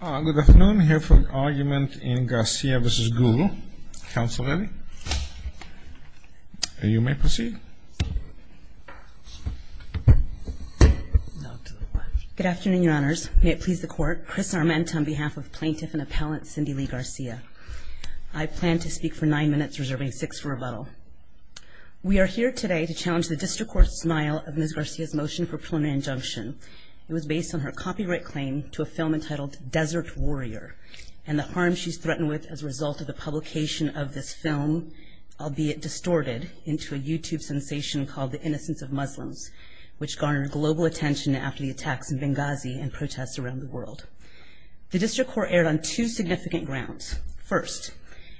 Good afternoon, here for argument in Garcia v. Google. Counsel ready? You may proceed. Good afternoon, Your Honors. May it please the Court, Chris Arment on behalf of Plaintiff and Appellant Cindy Lee Garcia. I plan to speak for nine minutes, reserving six for rebuttal. We are here today to challenge the district court's denial of Ms. Garcia's motion for preliminary injunction. It was based on her copyright claim to a film entitled Desert Warrior, and the harm she's threatened with as a result of the publication of this film, albeit distorted into a YouTube sensation called The Innocence of Muslims, which garnered global attention after the attacks in Benghazi and protests around the world. The district court erred on two significant grounds. First,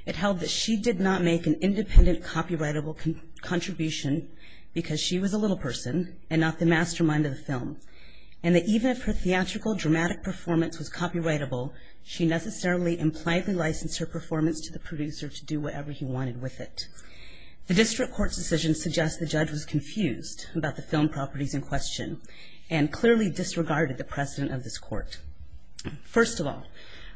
it held that she did not make an independent copyrightable contribution because she was a little person and not the mastermind of the film, and that even if her theatrical, dramatic performance was copyrightable, she necessarily impliedly licensed her performance to the producer to do whatever he wanted with it. The district court's decision suggests the judge was confused about the film properties in question and clearly disregarded the precedent of this court. First of all,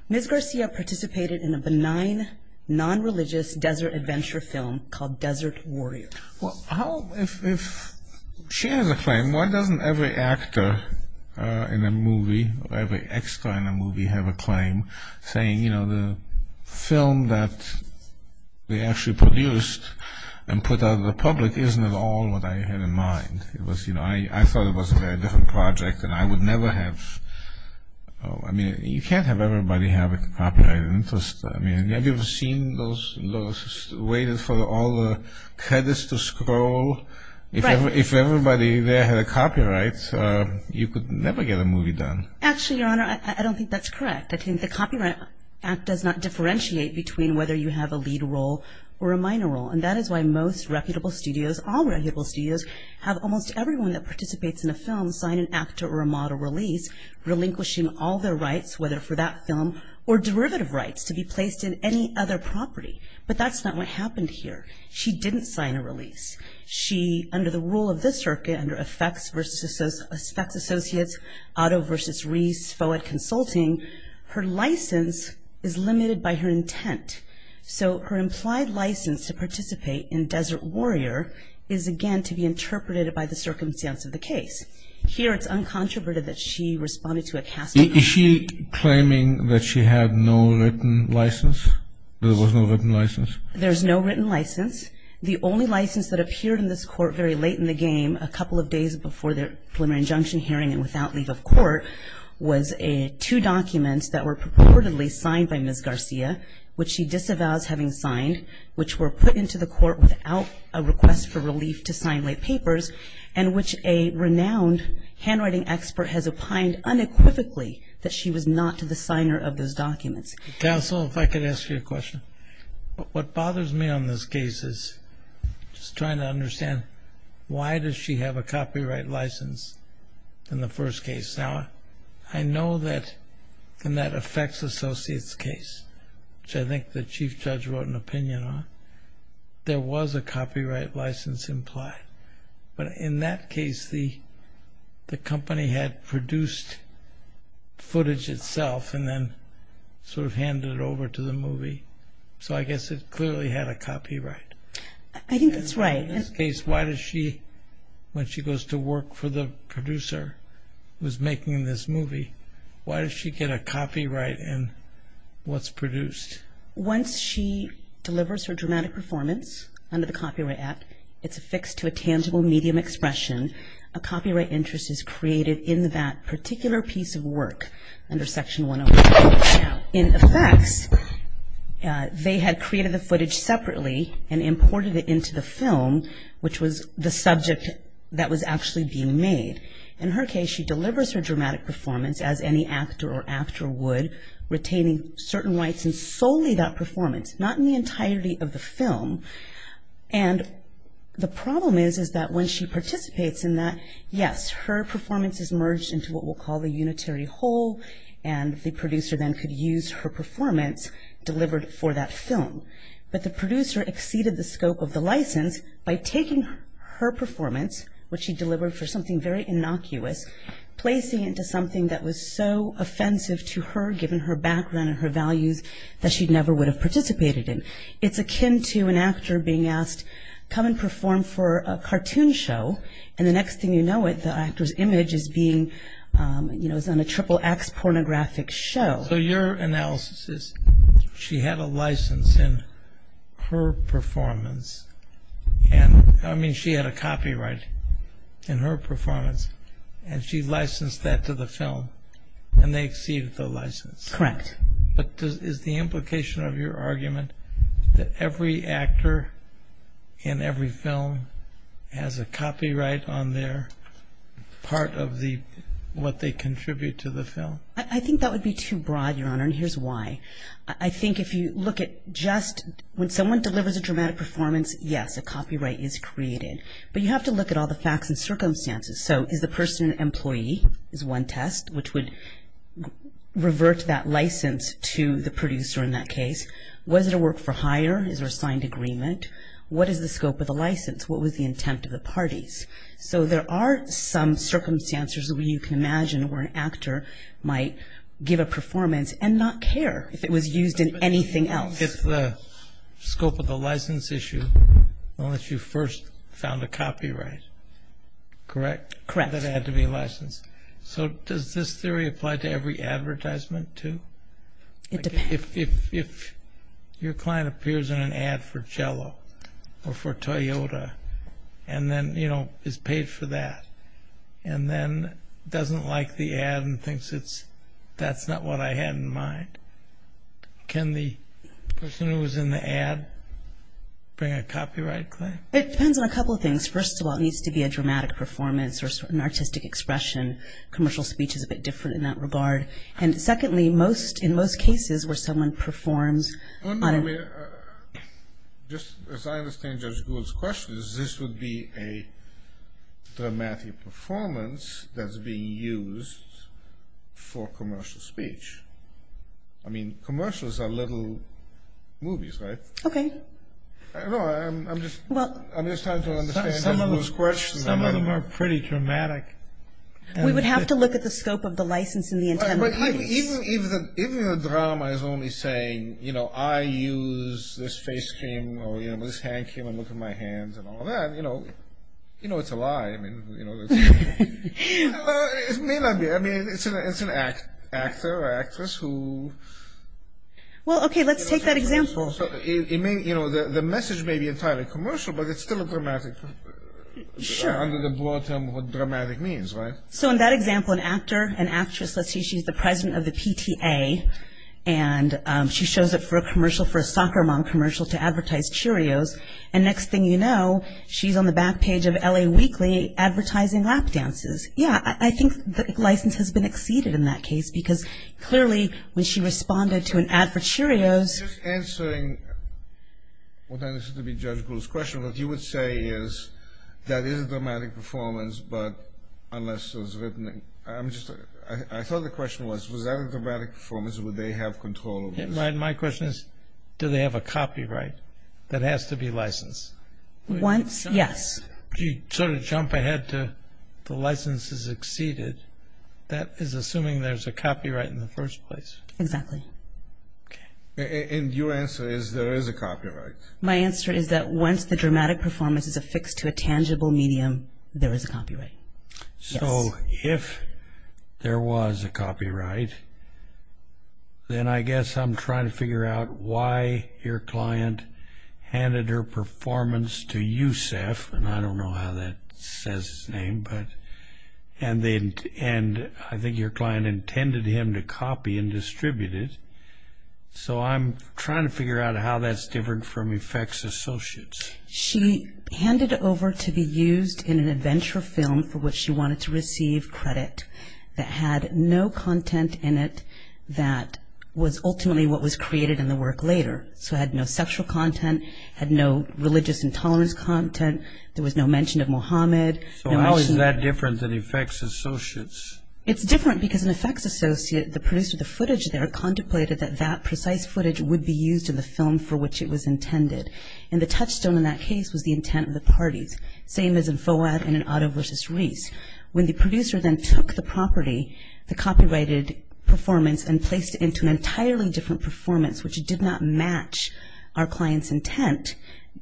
Ms. Garcia participated in a benign, nonreligious desert adventure film called Desert Warrior. Well, if she has a claim, why doesn't every actor in a movie or every extra in a movie have a claim saying, you know, the film that they actually produced and put out in the public isn't at all what I had in mind? It was, you know, I thought it was a very different project and I would never have, I mean, you can't have everybody have a copyrighted interest. I mean, have you ever seen those, waited for all the credits to scroll? If everybody there had a copyright, you could never get a movie done. Actually, Your Honor, I don't think that's correct. I think the Copyright Act does not differentiate between whether you have a lead role or a minor role, and that is why most reputable studios, all reputable studios, have almost everyone that participates in a film sign an actor or a model release, relinquishing all their rights, whether for that film or derivative rights, to be placed in any other property. But that's not what happened here. She didn't sign a release. She, under the rule of the circuit, under effects associates, auto versus res, FOA consulting, her license is limited by her intent. So her implied license to participate in Desert Warrior is, again, to be interpreted by the circumstance of the case. Here it's uncontroverted that she responded to a casting call. Is she claiming that she had no written license, that there was no written license? There's no written license. The only license that appeared in this court very late in the game, a couple of days before the preliminary injunction hearing and without leave of court, was two documents that were purportedly signed by Ms. Garcia, which she disavows having signed, which were put into the court without a request for relief to sign late papers, and which a renowned handwriting expert has opined unequivocally that she was not the signer of those documents. Counsel, if I could ask you a question. What bothers me on this case is just trying to understand why does she have a copyright license in the first case? Now, I know that in that effects associates case, which I think the chief judge wrote an opinion on, there was a copyright license implied. But in that case, the company had produced footage itself and then sort of handed it over to the movie. So I guess it clearly had a copyright. I think that's right. In this case, why does she, when she goes to work for the producer who's making this movie, why does she get a copyright in what's produced? Once she delivers her dramatic performance under the Copyright Act, it's affixed to a tangible medium expression. A copyright interest is created in that particular piece of work under Section 101. Now, in effects, they had created the footage separately and imported it into the film, which was the subject that was actually being made. In her case, she delivers her dramatic performance as any actor or after would, retaining certain rights and solely that performance, not in the entirety of the film. And the problem is, is that when she participates in that, yes, her performance is merged into what we'll call a unitary whole, and the producer then could use her performance delivered for that film. But the producer exceeded the scope of the license by taking her performance, which she delivered for something very innocuous, placing it into something that was so offensive to her, given her background and her values, that she never would have participated in. It's akin to an actor being asked, come and perform for a cartoon show, and the next thing you know, the actor's image is being, you know, is on a triple-X pornographic show. So your analysis is she had a license in her performance, and, I mean, she had a copyright in her performance, and she licensed that to the film, and they exceeded the license. Correct. But is the implication of your argument that every actor in every film has a copyright on their part of what they contribute to the film? I think that would be too broad, Your Honor, and here's why. I think if you look at just when someone delivers a dramatic performance, yes, a copyright is created. But you have to look at all the facts and circumstances. So is the person an employee is one test, which would revert that license to the producer in that case. Was it a work-for-hire? Is there a signed agreement? What is the scope of the license? What was the intent of the parties? So there are some circumstances where you can imagine where an actor might give a performance and not care if it was used in anything else. So you don't get the scope of the license issue unless you first found a copyright, correct? Correct. That had to be licensed. So does this theory apply to every advertisement too? It depends. If your client appears in an ad for Jell-O or for Toyota and then, you know, is paid for that and then doesn't like the ad and thinks that's not what I had in mind, can the person who was in the ad bring a copyright claim? It depends on a couple of things. First of all, it needs to be a dramatic performance or an artistic expression. Commercial speech is a bit different in that regard. And secondly, in most cases where someone performs on a – No, no, I mean, just as I understand Judge Gould's question, this would be a dramatic performance that's being used for commercial speech. I mean, commercials are little movies, right? Okay. No, I'm just – Well – I'm just trying to understand Judge Gould's question. Some of them are pretty dramatic. We would have to look at the scope of the license and the intent of the piece. Even the drama is only saying, you know, I use this face cam or, you know, this hand cam and look at my hands and all that. You know, it's a lie. I mean, you know, it's – It may not be. I mean, it's an actor or actress who – Well, okay, let's take that example. It may – you know, the message may be entirely commercial, but it's still a dramatic – Sure. Under the broad term of what dramatic means, right? So in that example, an actor, an actress, let's say she's the president of the PTA and she shows up for a commercial, for a soccer mom commercial to advertise Cheerios, and next thing you know, she's on the back page of L.A. Weekly advertising lap dances. Yeah, I think the license has been exceeded in that case because clearly when she responded to an ad for Cheerios – Just answering what I understood to be Judge Gould's question, what you would say is that is a dramatic performance, but unless it was written – I'm just – I thought the question was, was that a dramatic performance, or would they have control over this? My question is, do they have a copyright that has to be licensed? Once – yes. You sort of jump ahead to the license has exceeded. That is assuming there's a copyright in the first place. Exactly. Okay. And your answer is there is a copyright. My answer is that once the dramatic performance is affixed to a tangible medium, there is a copyright. Yes. So if there was a copyright, then I guess I'm trying to figure out why your client handed her performance to Yousef, and I don't know how that says his name, and I think your client intended him to copy and distribute it. So I'm trying to figure out how that's different from effects associates. She handed it over to be used in an adventure film for which she wanted to receive credit that had no content in it that was ultimately what was created in the work later. So it had no sexual content. It had no religious intolerance content. There was no mention of Mohammed. So how is that different than effects associates? It's different because an effects associate, the producer of the footage there, contemplated that that precise footage would be used in the film for which it was intended. And the touchstone in that case was the intent of the parties, same as in Fouad and in Otto versus Reese. When the producer then took the property, the copyrighted performance, and placed it into an entirely different performance, which did not match our client's intent,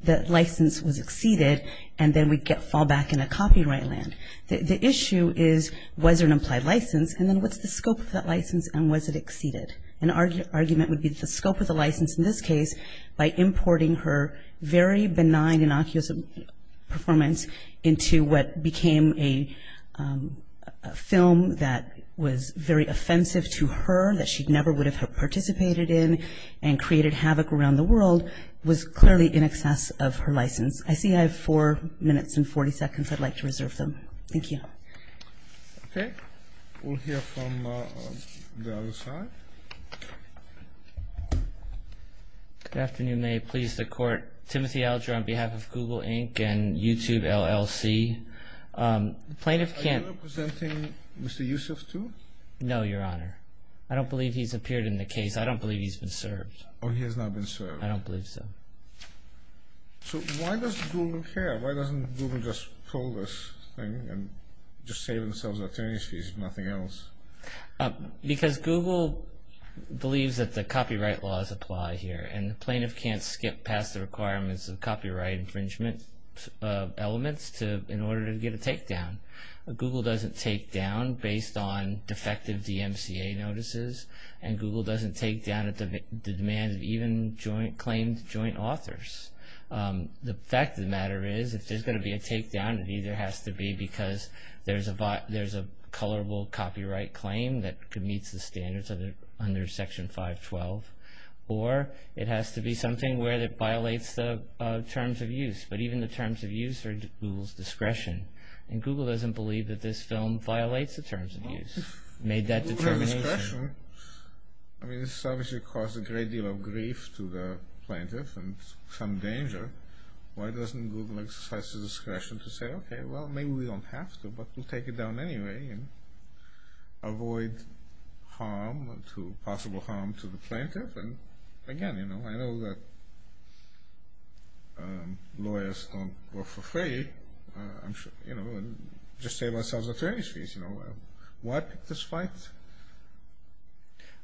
that license was exceeded and then we'd fall back in a copyright land. The issue is was there an implied license, and then what's the scope of that license and was it exceeded? An argument would be the scope of the license in this case by importing her very benign innocuous performance into what became a film that was very offensive to her, that she never would have participated in and created havoc around the world, was clearly in excess of her license. I see I have four minutes and 40 seconds. I'd like to reserve them. Thank you. Okay. We'll hear from the other side. Good afternoon. May it please the Court. Timothy Alger on behalf of Google Inc. and YouTube LLC. Are you representing Mr. Yusuf too? No, Your Honor. I don't believe he's appeared in the case. I don't believe he's been served. Oh, he has not been served. I don't believe so. So why does Google care? Why doesn't Google just pull this thing and just save themselves attorneys fees and nothing else? Because Google believes that the copyright laws apply here, and the plaintiff can't skip past the requirements of copyright infringement elements in order to get a takedown. Google doesn't takedown based on defective DMCA notices, and Google doesn't takedown at the demand of even claimed joint authors. The fact of the matter is, if there's going to be a takedown, it either has to be because there's a colorable copyright claim that meets the standards under Section 512, or it has to be something where it violates the terms of use. But even the terms of use are at Google's discretion, and Google doesn't believe that this film violates the terms of use. It made that determination. I mean, this obviously caused a great deal of grief to the plaintiff, and some danger. Why doesn't Google exercise its discretion to say, okay, well, maybe we don't have to, but we'll take it down anyway, and avoid possible harm to the plaintiff? Again, I know that lawyers don't work for free. Just save ourselves attorneys fees. Why pick this fight?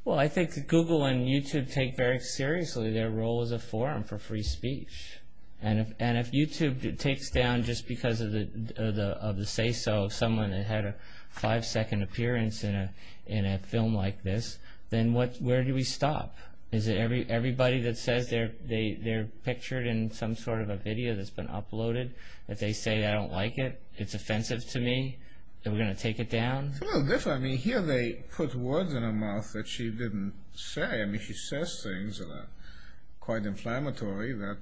Well, I think that Google and YouTube take very seriously their role as a forum for free speech. And if YouTube takes down just because of the say-so of someone that had a five-second appearance in a film like this, then where do we stop? Is it everybody that says they're pictured in some sort of a video that's been uploaded, that they say, I don't like it, it's offensive to me, and we're going to take it down? It's a little different. I mean, here they put words in her mouth that she didn't say. I mean, she says things that are quite inflammatory. I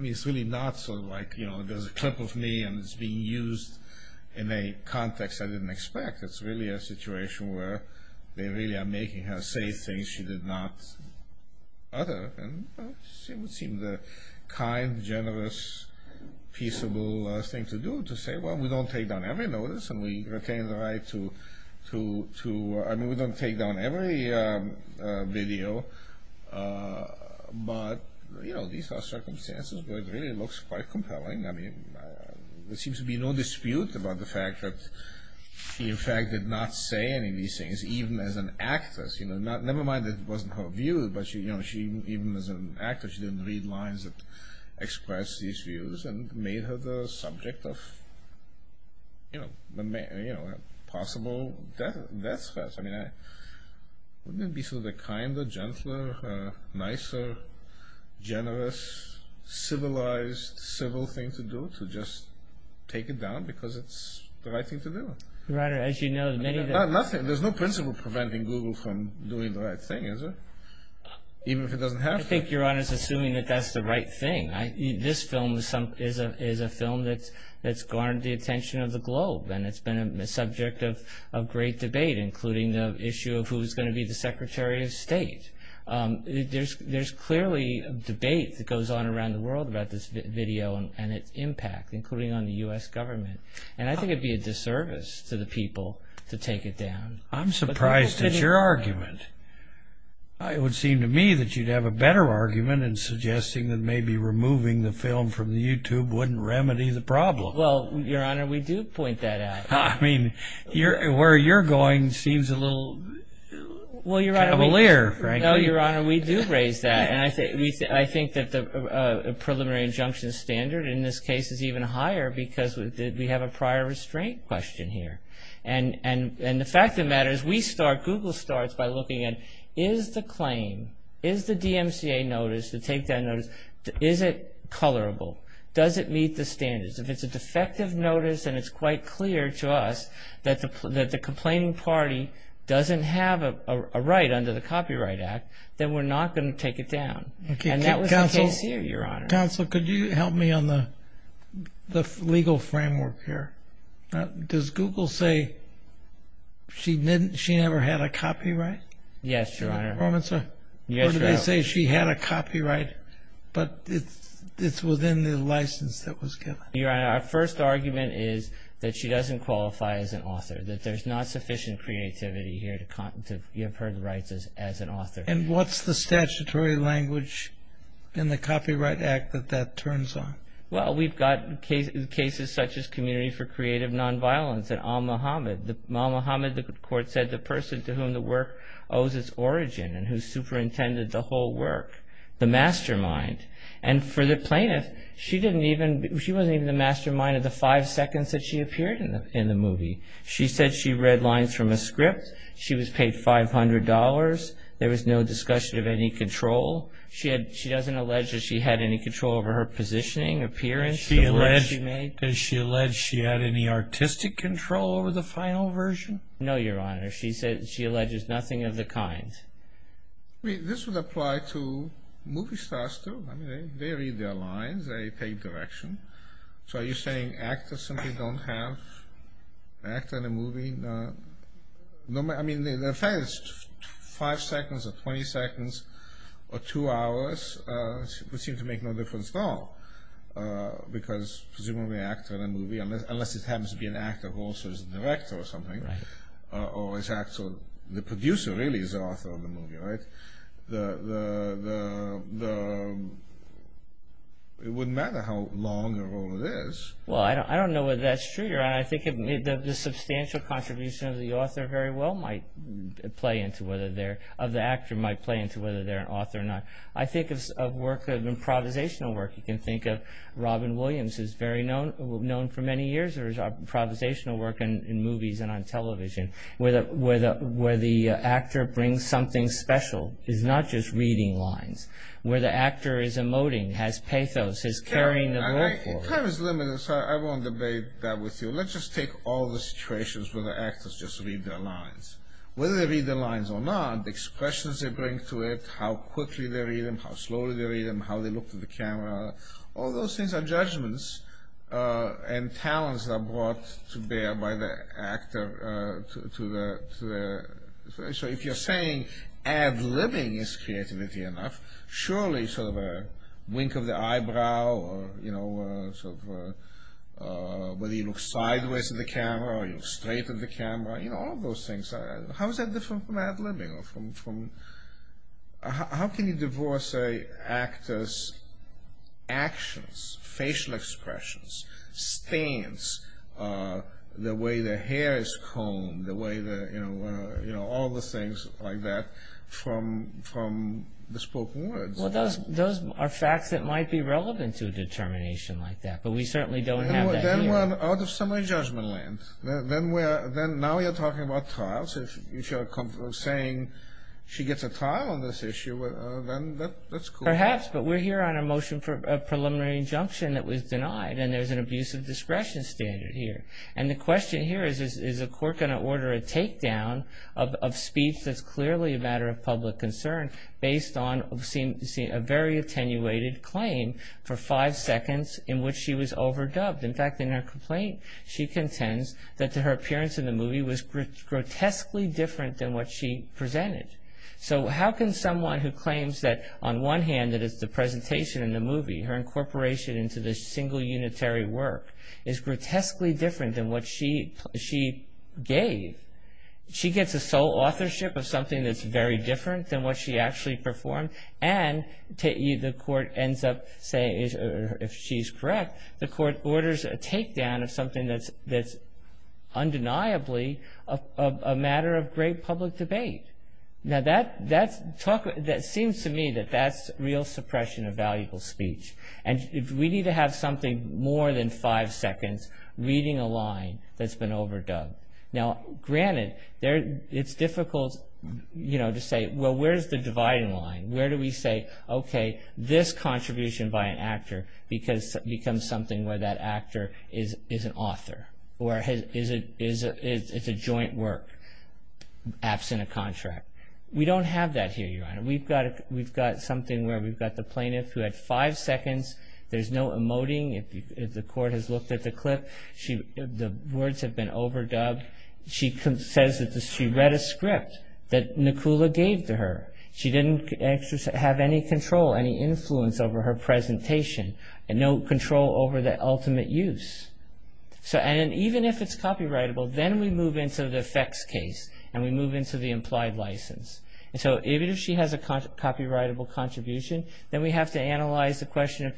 mean, it's really not sort of like, you know, there's a clip of me and it's being used in a context I didn't expect. It's really a situation where they really are making her say things she did not utter. And it would seem the kind, generous, peaceable thing to do, to say, well, we don't take down every notice, and we retain the right to, I mean, we don't take down every video. But, you know, these are circumstances where it really looks quite compelling. I mean, there seems to be no dispute about the fact that she, in fact, did not say any of these things, even as an actress. You know, never mind that it wasn't her view, but even as an actor she didn't read lines that expressed these views and made her the subject of, you know, possible death threats. I mean, wouldn't it be sort of the kinder, gentler, nicer, generous, civilized, civil thing to do, to just take it down because it's the right thing to do? Your Honor, as you know, many of the... Nothing. There's no principle preventing Google from doing the right thing, is there? Even if it doesn't have to. I think, Your Honor, it's assuming that that's the right thing. This film is a film that's garnered the attention of the globe and it's been a subject of great debate, including the issue of who's going to be the Secretary of State. There's clearly debate that goes on around the world about this video and its impact, including on the U.S. government. And I think it would be a disservice to the people to take it down. I'm surprised at your argument. It would seem to me that you'd have a better argument in suggesting that maybe removing the film from YouTube wouldn't remedy the problem. Well, Your Honor, we do point that out. I mean, where you're going seems a little cavalier, frankly. No, Your Honor, we do raise that. And I think that the preliminary injunction standard in this case is even higher because we have a prior restraint question here. And the fact of the matter is we start, Google starts, by looking at, is the claim, is the DMCA notice, the take-down notice, is it colorable? Does it meet the standards? If it's a defective notice and it's quite clear to us that the complaining party doesn't have a right under the Copyright Act, then we're not going to take it down. And that was the case here, Your Honor. Counsel, could you help me on the legal framework here? Does Google say she never had a copyright? Yes, Your Honor. Or do they say she had a copyright, but it's within the license that was given? Your Honor, our first argument is that she doesn't qualify as an author, that there's not sufficient creativity here to have her rights as an author. And what's the statutory language in the Copyright Act that that turns on? Well, we've got cases such as Community for Creative Nonviolence, Mohammed, the court said, the person to whom the work owes its origin and who superintended the whole work, the mastermind. And for the plaintiff, she wasn't even the mastermind of the five seconds that she appeared in the movie. She said she read lines from a script. She was paid $500. There was no discussion of any control. She doesn't allege that she had any control over her positioning, appearance, Does she allege she had any artistic control over the final version? No, Your Honor. She alleges nothing of the kind. This would apply to movie stars, too. I mean, they read their lines. They pay direction. So are you saying actors simply don't have an actor in a movie? I mean, the fact it's five seconds or 20 seconds or two hours would seem to make no difference at all because presumably an actor in a movie, unless it happens to be an actor who also is a director or something, or the producer really is the author of the movie, right? It wouldn't matter how long a role it is. Well, I don't know whether that's true, Your Honor. I think the substantial contribution of the author very well might play into whether they're an author or not. I think of improvisational work. You can think of Robin Williams, who's known for many years. There's improvisational work in movies and on television where the actor brings something special. It's not just reading lines. Where the actor is emoting, has pathos, is carrying the role forward. Your Honor, time is limited, so I won't debate that with you. Let's just take all the situations where the actors just read their lines. Whether they read their lines or not, the expressions they bring to it, how quickly they read them, how slowly they read them, how they look to the camera. All those things are judgments and talents that are brought to bear by the actor. So if you're saying ad-libbing is creativity enough, surely sort of a wink of the eyebrow, whether you look sideways at the camera or you look straight at the camera, all those things. How is that different from ad-libbing? How can you divorce an actor's actions, facial expressions, stance, the way their hair is combed, all the things like that from the spoken words? Those are facts that might be relevant to a determination like that, but we certainly don't have that here. Then we're out of summary judgment land. Now you're talking about trials. If you're saying she gets a trial on this issue, then that's cool. Perhaps, but we're here on a motion for a preliminary injunction that was denied, and there's an abuse of discretion standard here. And the question here is, is a court going to order a takedown of speech that's clearly a matter of public concern based on a very attenuated claim for five seconds in which she was overdubbed? In fact, in her complaint, she contends that her appearance in the movie was grotesquely different than what she presented. So how can someone who claims that, on one hand, that it's the presentation in the movie, her incorporation into this single unitary work, is grotesquely different than what she gave? She gets a sole authorship of something that's very different than what she actually performed, and the court ends up saying, if she's correct, the court orders a takedown of something that's undeniably a matter of great public debate. Now, that seems to me that that's real suppression of valuable speech. And we need to have something more than five seconds reading a line that's been overdubbed. Now, granted, it's difficult to say, well, where's the dividing line? Where do we say, okay, this contribution by an actor becomes something where that actor is an author, or it's a joint work, absent a contract. We don't have that here, Your Honor. We've got something where we've got the plaintiff who had five seconds. There's no emoting. If the court has looked at the clip, the words have been overdubbed. She says that she read a script that Nakula gave to her. She didn't have any control, any influence over her presentation, no control over the ultimate use. And even if it's copyrightable, then we move into the effects case, and we move into the implied license. And so even if she has a copyrightable contribution, then we have to analyze the question,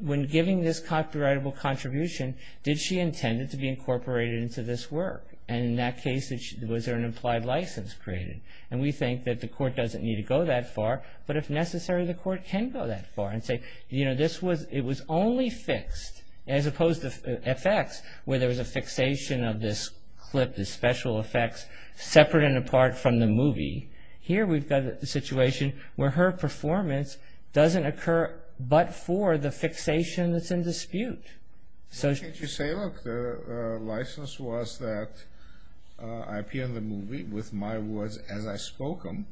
when giving this copyrightable contribution, did she intend it to be incorporated into this work? And in that case, was there an implied license created? And we think that the court doesn't need to go that far, but if necessary, the court can go that far and say, you know, it was only fixed, as opposed to effects, where there was a fixation of this clip, the special effects, separate and apart from the movie. Here we've got a situation where her performance doesn't occur but for the fixation that's in dispute. Can't you say, look, the license was that I appear in the movie with my words as I spoke them,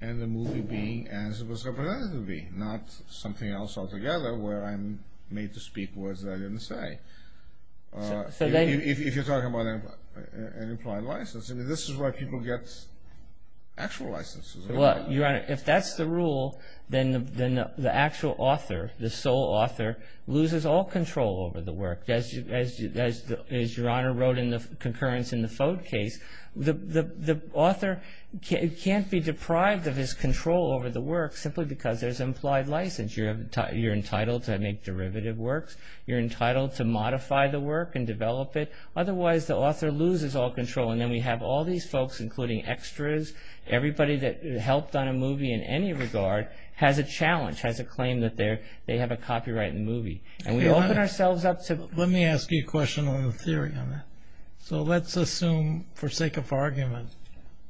and the movie being as it was represented to be, not something else altogether where I'm made to speak words that I didn't say. If you're talking about an implied license, I mean, this is where people get actual licenses. Well, Your Honor, if that's the rule, then the actual author, the sole author, loses all control over the work. As Your Honor wrote in the concurrence in the Fode case, the author can't be deprived of his control over the work simply because there's an implied license. You're entitled to make derivative works. You're entitled to modify the work and develop it. Otherwise, the author loses all control, and then we have all these folks, including extras, everybody that helped on a movie in any regard, has a challenge, has a claim that they have a copyright in the movie. And we open ourselves up to... Let me ask you a question on the theory on that. So let's assume, for sake of argument,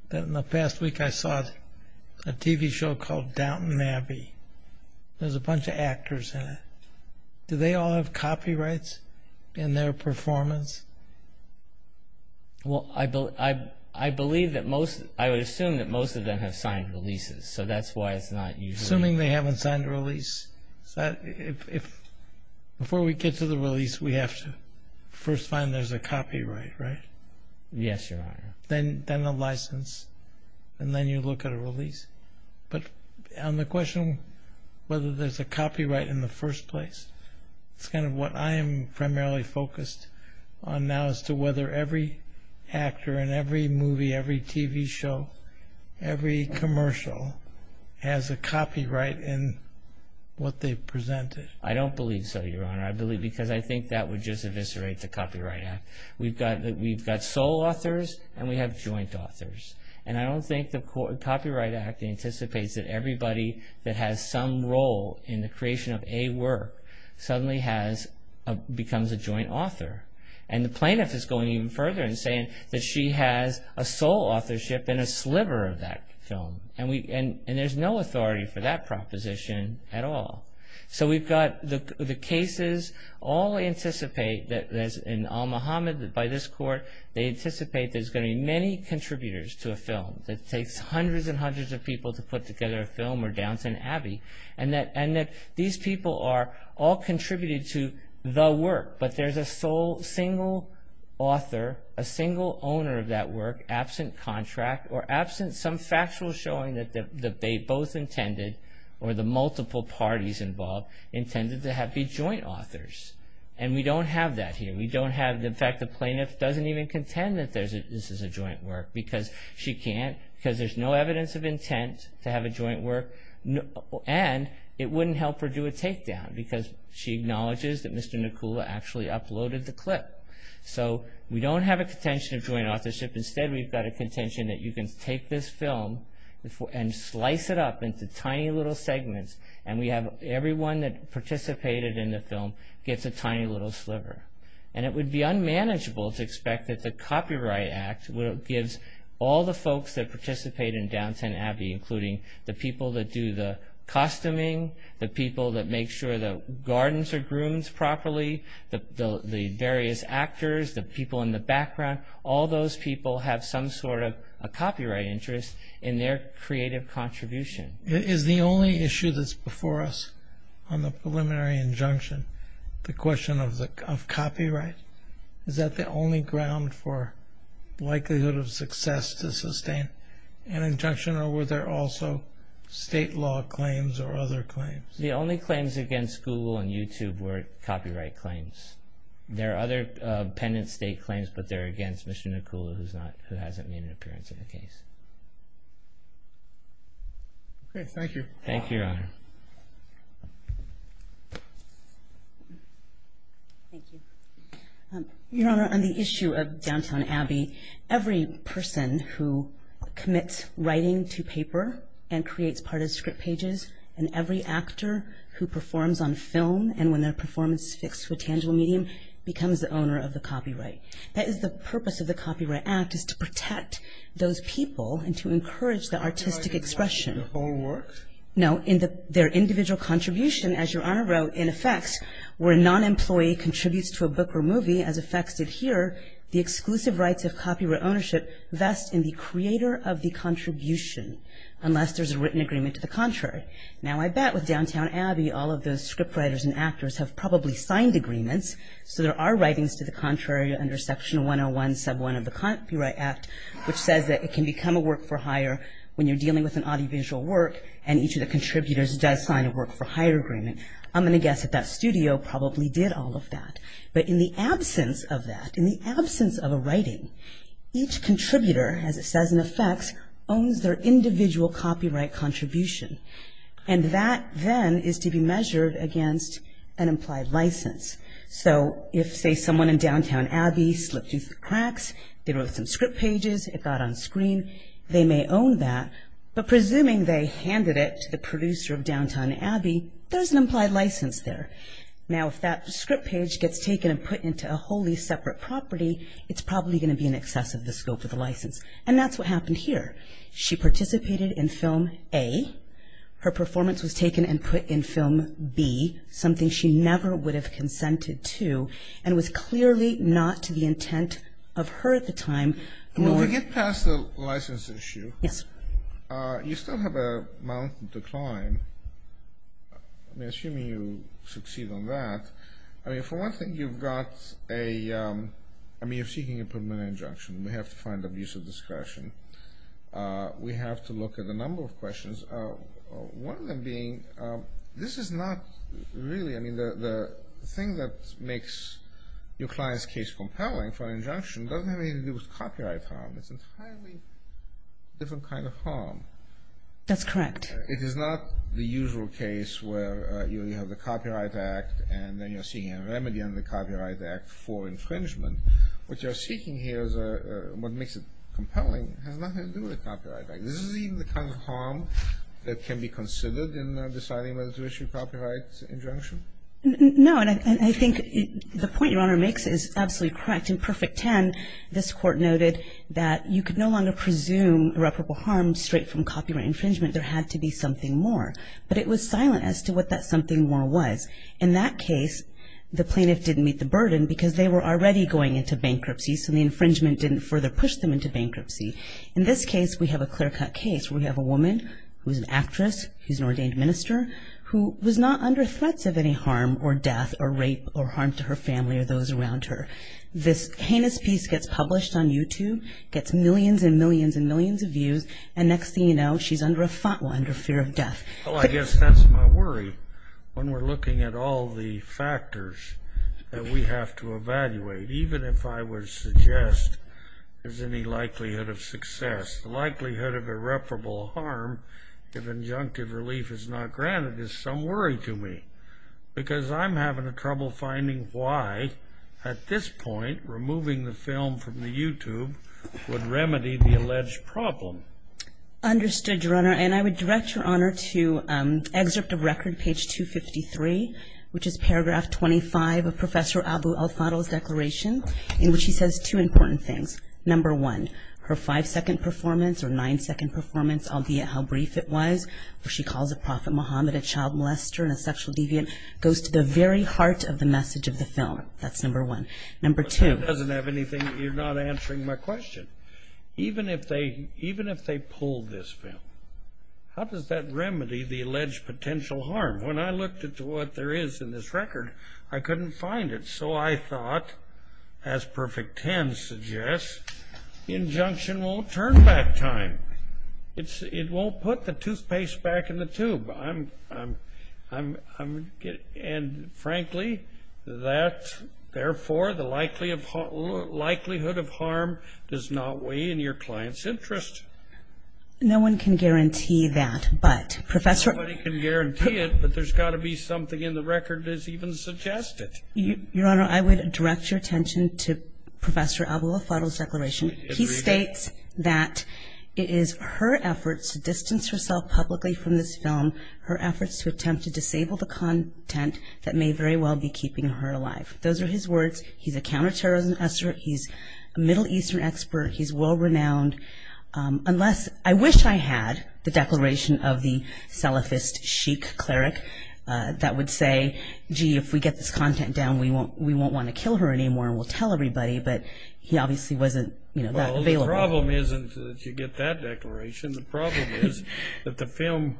that in the past week I saw a TV show called Downton Abbey. There's a bunch of actors in it. Do they all have copyrights in their performance? Well, I believe that most... I would assume that most of them have signed releases, so that's why it's not usually... Assuming they haven't signed a release. Before we get to the release, we have to first find there's a copyright, right? Yes, Your Honor. Then a license, and then you look at a release. But on the question whether there's a copyright in the first place, it's kind of what I am primarily focused on now as to whether every actor in every movie, every TV show, every commercial has a copyright in what they've presented. I don't believe so, Your Honor. Because I think that would just eviscerate the Copyright Act. We've got sole authors, and we have joint authors. And I don't think the Copyright Act anticipates that everybody that has some role in the creation of a work suddenly becomes a joint author. And the plaintiff is going even further and saying that she has a sole authorship in a sliver of that film. And there's no authority for that proposition at all. So we've got the cases all anticipate, in Al-Muhammad, by this court, they anticipate there's going to be many contributors to a film. It takes hundreds and hundreds of people to put together a film or Downton Abbey. And that these people are all contributed to the work, but there's a sole, single author, a single owner of that work, absent contract or absent some factual showing that they both intended, or the multiple parties involved, intended to be joint authors. And we don't have that here. In fact, the plaintiff doesn't even contend that this is a joint work because there's no evidence of intent to have a joint work, and it wouldn't help her do a takedown because she acknowledges that Mr. Nakula actually uploaded the clip. So we don't have a contention of joint authorship. Instead, we've got a contention that you can take this film and slice it up into tiny little segments, and everyone that participated in the film gets a tiny little sliver. And it would be unmanageable to expect that the Copyright Act gives all the folks that participate in Downton Abbey, including the people that do the costuming, the people that make sure the gardens are groomed properly, the various actors, the people in the background, all those people have some sort of a copyright interest in their creative contribution. Is the only issue that's before us on the preliminary injunction the question of copyright? Is that the only ground for likelihood of success to sustain an injunction, or were there also state law claims or other claims? The only claims against Google and YouTube were copyright claims. There are other pendent state claims, but they're against Mr. Nakula who hasn't made an appearance in the case. Okay, thank you. Thank you, Your Honor. Thank you. Your Honor, on the issue of Downton Abbey, every person who commits writing to paper and creates part of script pages, and every actor who performs on film and when their performance is fixed to a tangible medium, becomes the owner of the copyright. That is the purpose of the Copyright Act, is to protect those people and to encourage the artistic expression. Do I do that in the whole work? No, in their individual contribution, as Your Honor wrote, in effects, where a non-employee contributes to a book or movie, as effects did here, the exclusive rights of copyright ownership vest in the creator of the contribution, unless there's a written agreement to the contrary. Now I bet with Downton Abbey, all of those script writers and actors have probably signed agreements, so there are writings to the contrary under Section 101, Sub 1 of the Copyright Act, which says that it can become a work for hire when you're dealing with an audiovisual work and each of the contributors does sign a work for hire agreement. I'm going to guess that that studio probably did all of that. But in the absence of that, in the absence of a writing, each contributor, as it says in effects, owns their individual copyright contribution. And that then is to be measured against an implied license. So if, say, someone in Downton Abbey slipped through the cracks, they wrote some script pages, it got on screen, they may own that, but presuming they handed it to the producer of Downton Abbey, there's an implied license there. Now if that script page gets taken and put into a wholly separate property, it's probably going to be in excess of the scope of the license. And that's what happened here. She participated in film A. Her performance was taken and put in film B, something she never would have consented to and was clearly not to the intent of her at the time. When we get past the license issue, you still have a mountain to climb. I mean, assuming you succeed on that. I mean, for one thing, you've got a... I mean, you're seeking a permanent injunction. We have to find abuse of discretion. We have to look at a number of questions. One of them being, this is not really... I mean, the thing that makes your client's case compelling for an injunction doesn't have anything to do with copyright harm. It's an entirely different kind of harm. That's correct. It is not the usual case where you have the Copyright Act and then you're seeking a remedy under the Copyright Act for infringement. What you're seeking here is what makes it compelling. It has nothing to do with the Copyright Act. This is even the kind of harm that can be considered in deciding whether to issue a copyright injunction? No, and I think the point Your Honor makes is absolutely correct. In Perfect Ten, this Court noted that you could no longer presume irreparable harm straight from copyright infringement. There had to be something more. But it was silent as to what that something more was. In that case, the plaintiff didn't meet the burden because they were already going into bankruptcy, so the infringement didn't further push them into bankruptcy. In this case, we have a clear-cut case where we have a woman who's an actress, who's an ordained minister, who was not under threats of any harm or death or rape or harm to her family or those around her. This heinous piece gets published on YouTube, gets millions and millions and millions of views, and next thing you know, she's under a FATWA, under fear of death. Well, I guess that's my worry. When we're looking at all the factors that we have to evaluate, even if I would suggest there's any likelihood of success, the likelihood of irreparable harm if injunctive relief is not granted is some worry to me because I'm having trouble finding why, at this point, removing the film from the YouTube would remedy the alleged problem. Understood, Your Honor. And I would direct Your Honor to excerpt of record, page 253, which is paragraph 25 of Professor Abu El-Fadl's declaration, in which he says two important things. Number one, her five-second performance or nine-second performance, albeit how brief it was, where she calls a prophet Muhammad a child molester and a sexual deviant, goes to the very heart of the message of the film. That's number one. Number two— But that doesn't have anything—you're not answering my question. Even if they pull this film, how does that remedy the alleged potential harm? When I looked into what there is in this record, I couldn't find it. So I thought, as Perfect Ten suggests, the injunction won't turn back time. It won't put the toothpaste back in the tube. And, frankly, therefore, the likelihood of harm does not weigh in your client's interest. No one can guarantee that, but Professor— Nobody can guarantee it, but there's got to be something in the record that's even suggested. Your Honor, I would direct your attention to Professor Abu El-Fadl's declaration. He states that it is her efforts to distance herself publicly from this film her efforts to attempt to disable the content that may very well be keeping her alive. Those are his words. He's a counterterrorism expert. He's a Middle Eastern expert. He's world-renowned. Unless—I wish I had the declaration of the Salafist sheik cleric that would say, gee, if we get this content down, we won't want to kill her anymore and we'll tell everybody. But he obviously wasn't that available. Well, the problem isn't that you get that declaration. The problem is that the film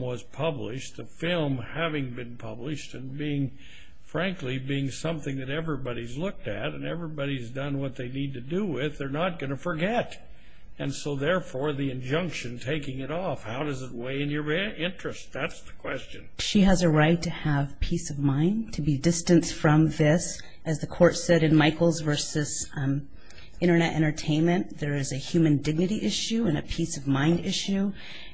was published, the film having been published, and being, frankly, being something that everybody's looked at and everybody's done what they need to do with, they're not going to forget. And so, therefore, the injunction taking it off, how does it weigh in your interest? That's the question. She has a right to have peace of mind, to be distanced from this. As the Court said in Michaels v. Internet Entertainment, there is a human dignity issue and a peace of mind issue,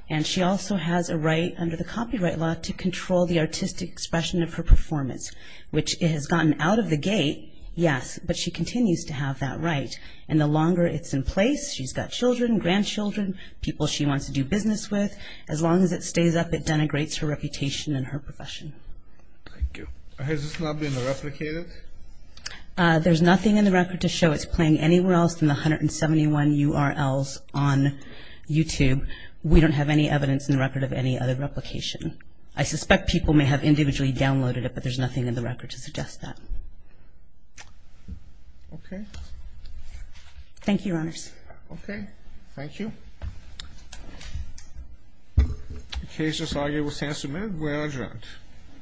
and she also has a right under the copyright law to control the artistic expression of her performance, which has gotten out of the gate, yes, but she continues to have that right. And the longer it's in place, she's got children, grandchildren, people she wants to do business with. As long as it stays up, it denigrates her reputation and her profession. Thank you. Has this not been replicated? There's nothing in the record to show it's playing anywhere else other than the 171 URLs on YouTube. We don't have any evidence in the record of any other replication. I suspect people may have individually downloaded it, but there's nothing in the record to suggest that. Okay. Thank you, Your Honors. Okay. Thank you. The case is argued with ten minutes. We are adjourned.